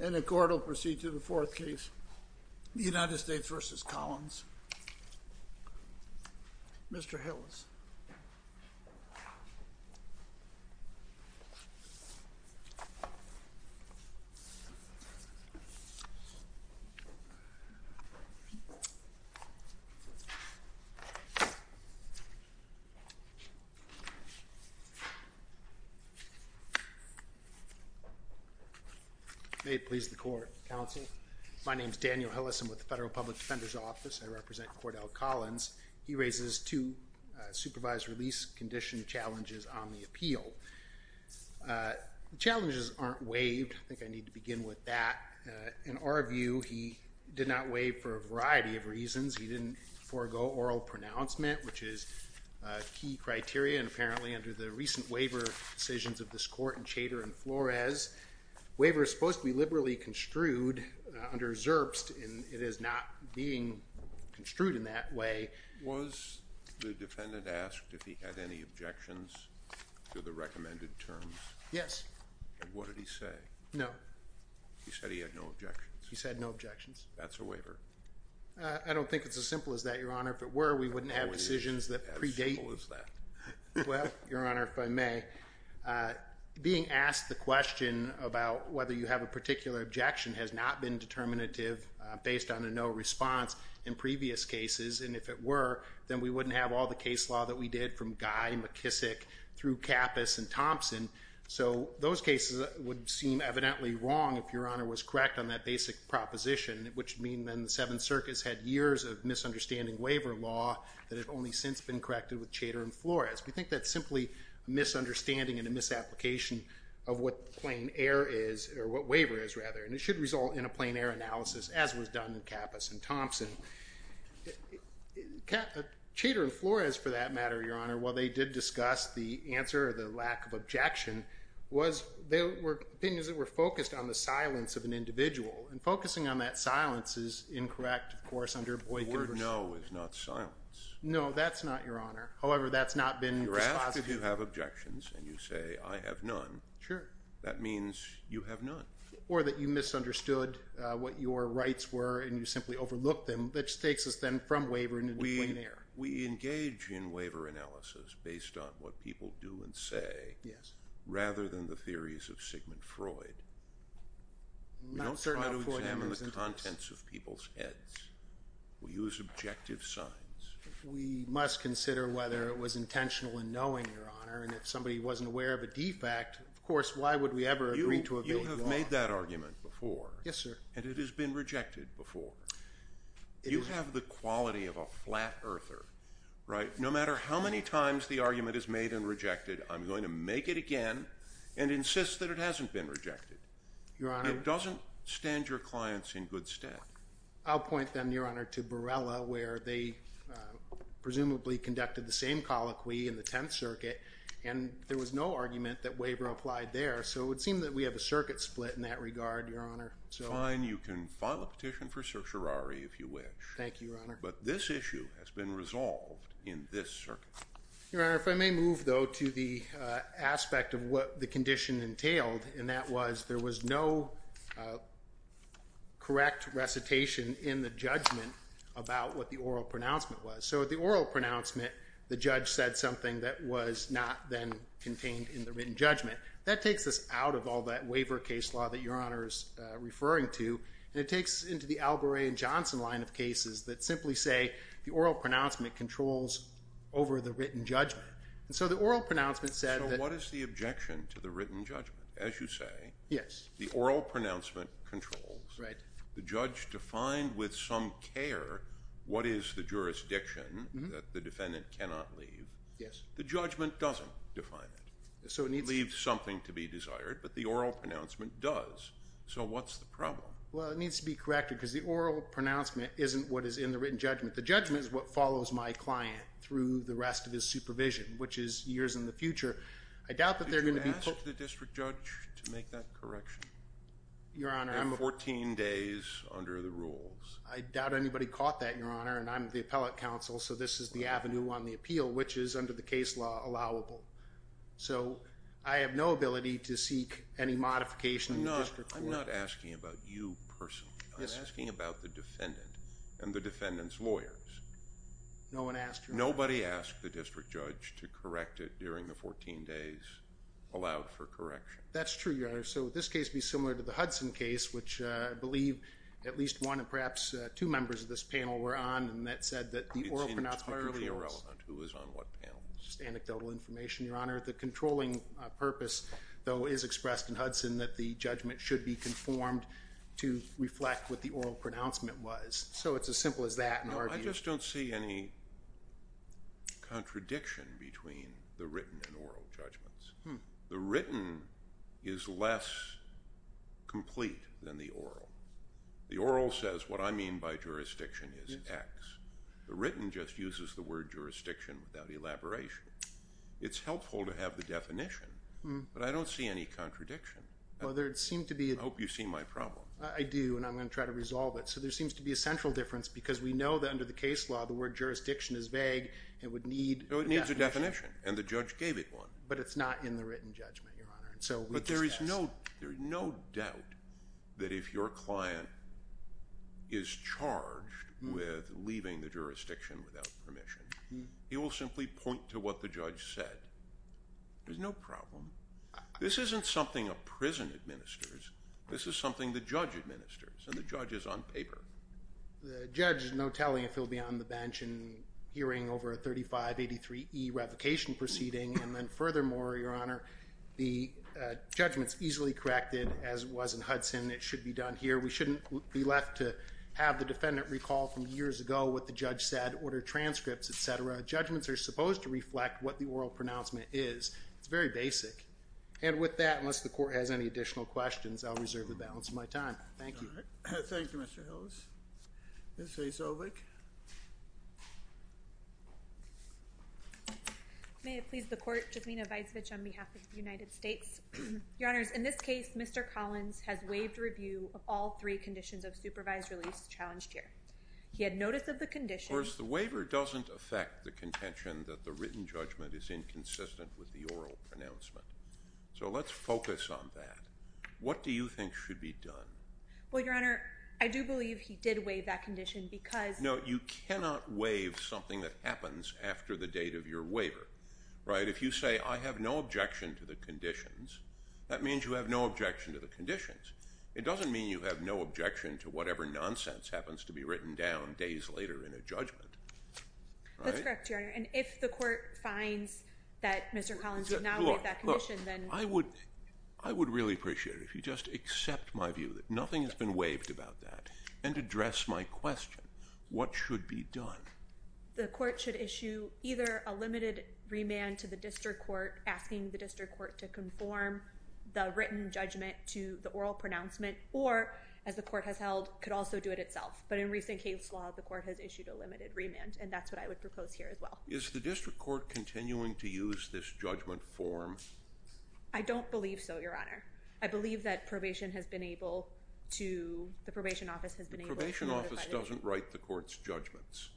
And the court will proceed to the fourth case. United States v. Collins Mr. Hillis May it please the court, counsel. My name is Daniel Hillis. I'm with the Federal Public Defender's Office. I represent Cordell Collins. He raises two supervised release condition challenges on the appeal. The challenges aren't waived. I think I need to begin with that. In our view, he did not waive for a variety of reasons. He didn't forego oral pronouncement, which is a key criteria. And apparently under the recent waiver decisions of this court in Chater and Flores, waiver is supposed to be liberally construed under Zerbst, and it is not being construed in that way. Was the defendant asked if he had any objections to the recommended terms? Yes. And what did he say? No. He said he had no objections. He said no objections. That's a waiver. I don't think it's as simple as that, Your Honor. If it were, we wouldn't have decisions that predate. How simple is that? Well, Your Honor, if I may, being asked the question about whether you have a particular objection has not been determinative based on a no response in previous cases. And if it were, then we wouldn't have all the case law that we did from Guy, McKissick, through Kappus and Thompson. So those cases would seem evidently wrong if Your Honor was correct on that basic proposition, which would mean then the Seventh Circus had years of misunderstanding waiver law that has only since been corrected with Chater and Flores. We think that's simply a misunderstanding and a misapplication of what waiver is, and it should result in a plain error analysis, as was done in Kappus and Thompson. Chater and Flores, for that matter, Your Honor, while they did discuss the answer or the lack of objection, they were opinions that were focused on the silence of an individual. And focusing on that silence is incorrect, of course, under Boykin. The word no is not silence. No, that's not, Your Honor. However, that's not been dispositive. You're asked if you have objections, and you say, I have none. Sure. That means you have none. Or that you misunderstood what your rights were and you simply overlooked them, which takes us then from waiver into a plain error. We engage in waiver analysis based on what people do and say rather than the theories of Sigmund Freud. We don't try to examine the contents of people's heads. We use objective signs. We must consider whether it was intentional in knowing, Your Honor, and if somebody wasn't aware of a defect, of course, why would we ever agree to a bill of law? You have made that argument before. Yes, sir. And it has been rejected before. You have the quality of a flat earther, right? No matter how many times the argument is made and rejected, I'm going to make it again and insist that it hasn't been rejected. Your Honor. It doesn't stand your clients in good stead. I'll point then, Your Honor, to Borrella where they presumably conducted the same colloquy in the Tenth Circuit, and there was no argument that waiver applied there, so it would seem that we have a circuit split in that regard, Your Honor. Fine. You can file a petition for certiorari if you wish. Thank you, Your Honor. But this issue has been resolved in this circuit. Your Honor, if I may move, though, to the aspect of what the condition entailed, and that was there was no correct recitation in the judgment about what the oral pronouncement was. So at the oral pronouncement, the judge said something that was not then contained in the written judgment. That takes us out of all that waiver case law that Your Honor is referring to, and it takes us into the Alboret and Johnson line of cases that simply say the oral pronouncement controls over the written judgment. And so the oral pronouncement said that- So what is the objection to the written judgment? As you say- Yes. The oral pronouncement controls. Right. The judge defined with some care what is the jurisdiction that the defendant cannot leave. Yes. The judgment doesn't define it. So it needs- It leaves something to be desired, but the oral pronouncement does. So what's the problem? Well, it needs to be corrected because the oral pronouncement isn't what is in the written judgment. The judgment is what follows my client through the rest of his supervision, which is years in the future. I doubt that they're going to be- Did you ask the district judge to make that correction? Your Honor, I'm- And 14 days under the rules. I doubt anybody caught that, Your Honor, and I'm the appellate counsel, so this is the avenue on the appeal, which is under the case law allowable. So I have no ability to seek any modification in the district court. I'm not asking about you personally. I'm asking about the defendant and the defendant's lawyers. No one asked, Your Honor. Nobody asked the district judge to correct it during the 14 days allowed for correction. That's true, Your Honor. So would this case be similar to the Hudson case, which I believe at least one and perhaps two members of this panel were on, and that said that the oral pronouncement- It's entirely irrelevant who was on what panel. It's just anecdotal information, Your Honor. The controlling purpose, though, is expressed in Hudson that the judgment should be conformed to reflect what the oral pronouncement was. So it's as simple as that in our view. I just don't see any contradiction between the written and oral judgments. The written is less complete than the oral. The oral says what I mean by jurisdiction is X. The written just uses the word jurisdiction without elaboration. It's helpful to have the definition, but I don't see any contradiction. Well, there seems to be- I hope you see my problem. I do, and I'm going to try to resolve it. So there seems to be a central difference because we know that under the case law, the word jurisdiction is vague and would need a definition. It needs a definition, and the judge gave it one. But it's not in the written judgment, Your Honor. But there is no doubt that if your client is charged with leaving the jurisdiction without permission, he will simply point to what the judge said. There's no problem. This isn't something a prison administers. This is something the judge administers, and the judge is on paper. The judge has no telling if he'll be on the bench and hearing over a 3583E revocation proceeding. And then furthermore, Your Honor, the judgment's easily corrected, as it was in Hudson. It should be done here. We shouldn't be left to have the defendant recall from years ago what the judge said, order transcripts, et cetera. Judgments are supposed to reflect what the oral pronouncement is. It's very basic. And with that, unless the court has any additional questions, I'll reserve the balance of my time. Thank you. All right. Thank you, Mr. Hillis. Ms. Vesovic. May it please the court. Jasmina Vesovic on behalf of the United States. Your Honors, in this case, Mr. Collins has waived review of all three conditions of supervised release challenged here. He had notice of the condition. Of course, the waiver doesn't affect the contention that the written judgment is inconsistent with the oral pronouncement. So let's focus on that. What do you think should be done? Well, Your Honor, I do believe he did waive that condition because No, you cannot waive something that happens after the date of your waiver. Right? If you say I have no objection to the conditions, that means you have no objection to the conditions. It doesn't mean you have no objection to whatever nonsense happens to be written down days later in a judgment. That's correct, Your Honor. And if the court finds that Mr. Collins did not waive that condition, then Look, I would really appreciate it if you just accept my view that nothing has been waived about that and address my question. What should be done? The court should issue either a limited remand to the district court asking the district court to conform the written judgment to the oral pronouncement or, as the court has held, could also do it itself. But in recent case law, the court has issued a limited remand, and that's what I would propose here as well. Is the district court continuing to use this judgment form? I don't believe so, Your Honor. I believe that probation has been able to The probation office doesn't write the court's judgments.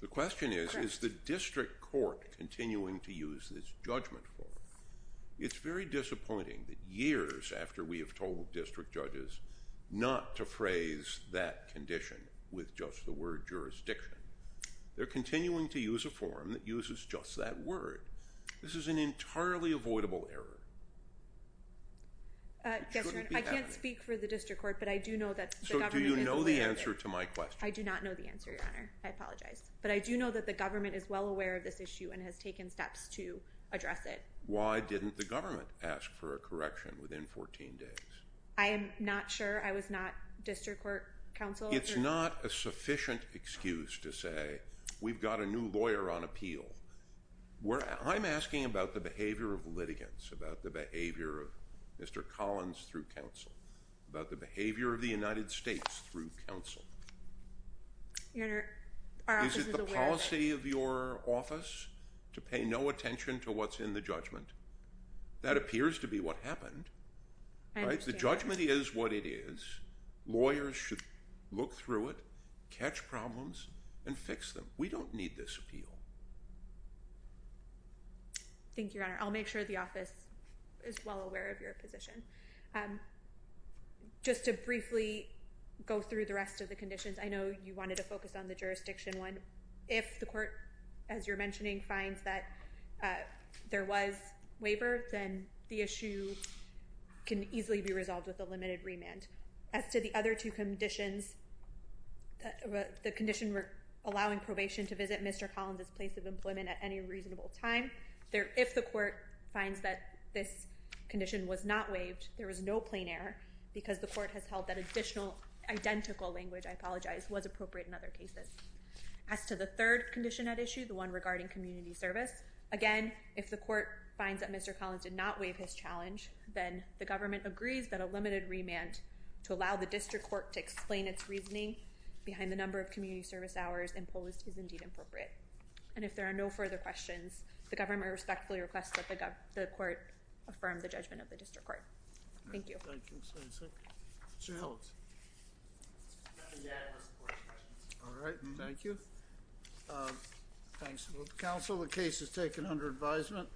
The question is, is the district court continuing to use this judgment form? It's very disappointing that years after we have told district judges not to phrase that condition with just the word jurisdiction, they're continuing to use a form that uses just that word. This is an entirely avoidable error. I can't speak for the district court, but I do know that the government is aware of it. So do you know the answer to my question? I do not know the answer, Your Honor. I apologize. But I do know that the government is well aware of this issue and has taken steps to address it. Why didn't the government ask for a correction within 14 days? I am not sure. I was not district court counsel. It's not a sufficient excuse to say, we've got a new lawyer on appeal. I'm asking about the behavior of litigants, about the behavior of Mr. Collins through counsel, about the behavior of the United States through counsel. Your Honor, our office is aware of it. Is it the policy of your office to pay no attention to what's in the judgment? That appears to be what happened. The judgment is what it is. Lawyers should look through it, catch problems, and fix them. We don't need this appeal. Thank you, Your Honor. I'll make sure the office is well aware of your position. Just to briefly go through the rest of the conditions, I know you wanted to focus on the jurisdiction one. If the court, as you're mentioning, finds that there was waiver, then the issue can easily be resolved with a limited remand. As to the other two conditions, the condition allowing probation to visit Mr. Collins' place of employment at any reasonable time, if the court finds that this condition was not waived, there was no plain error, because the court has held that additional identical language, I apologize, was appropriate in other cases. As to the third condition at issue, the one regarding community service, again, if the court finds that Mr. Collins did not waive his challenge, then the government agrees that a limited remand to allow the district court to explain its reasoning behind the number of community service hours imposed is indeed appropriate. And if there are no further questions, the government respectfully requests that the court affirm the judgment of the district court. Thank you. Thank you. Mr. Hillis. I'm happy to answer any questions. All right. Thank you. Thanks. Counsel, the case is taken under advisement.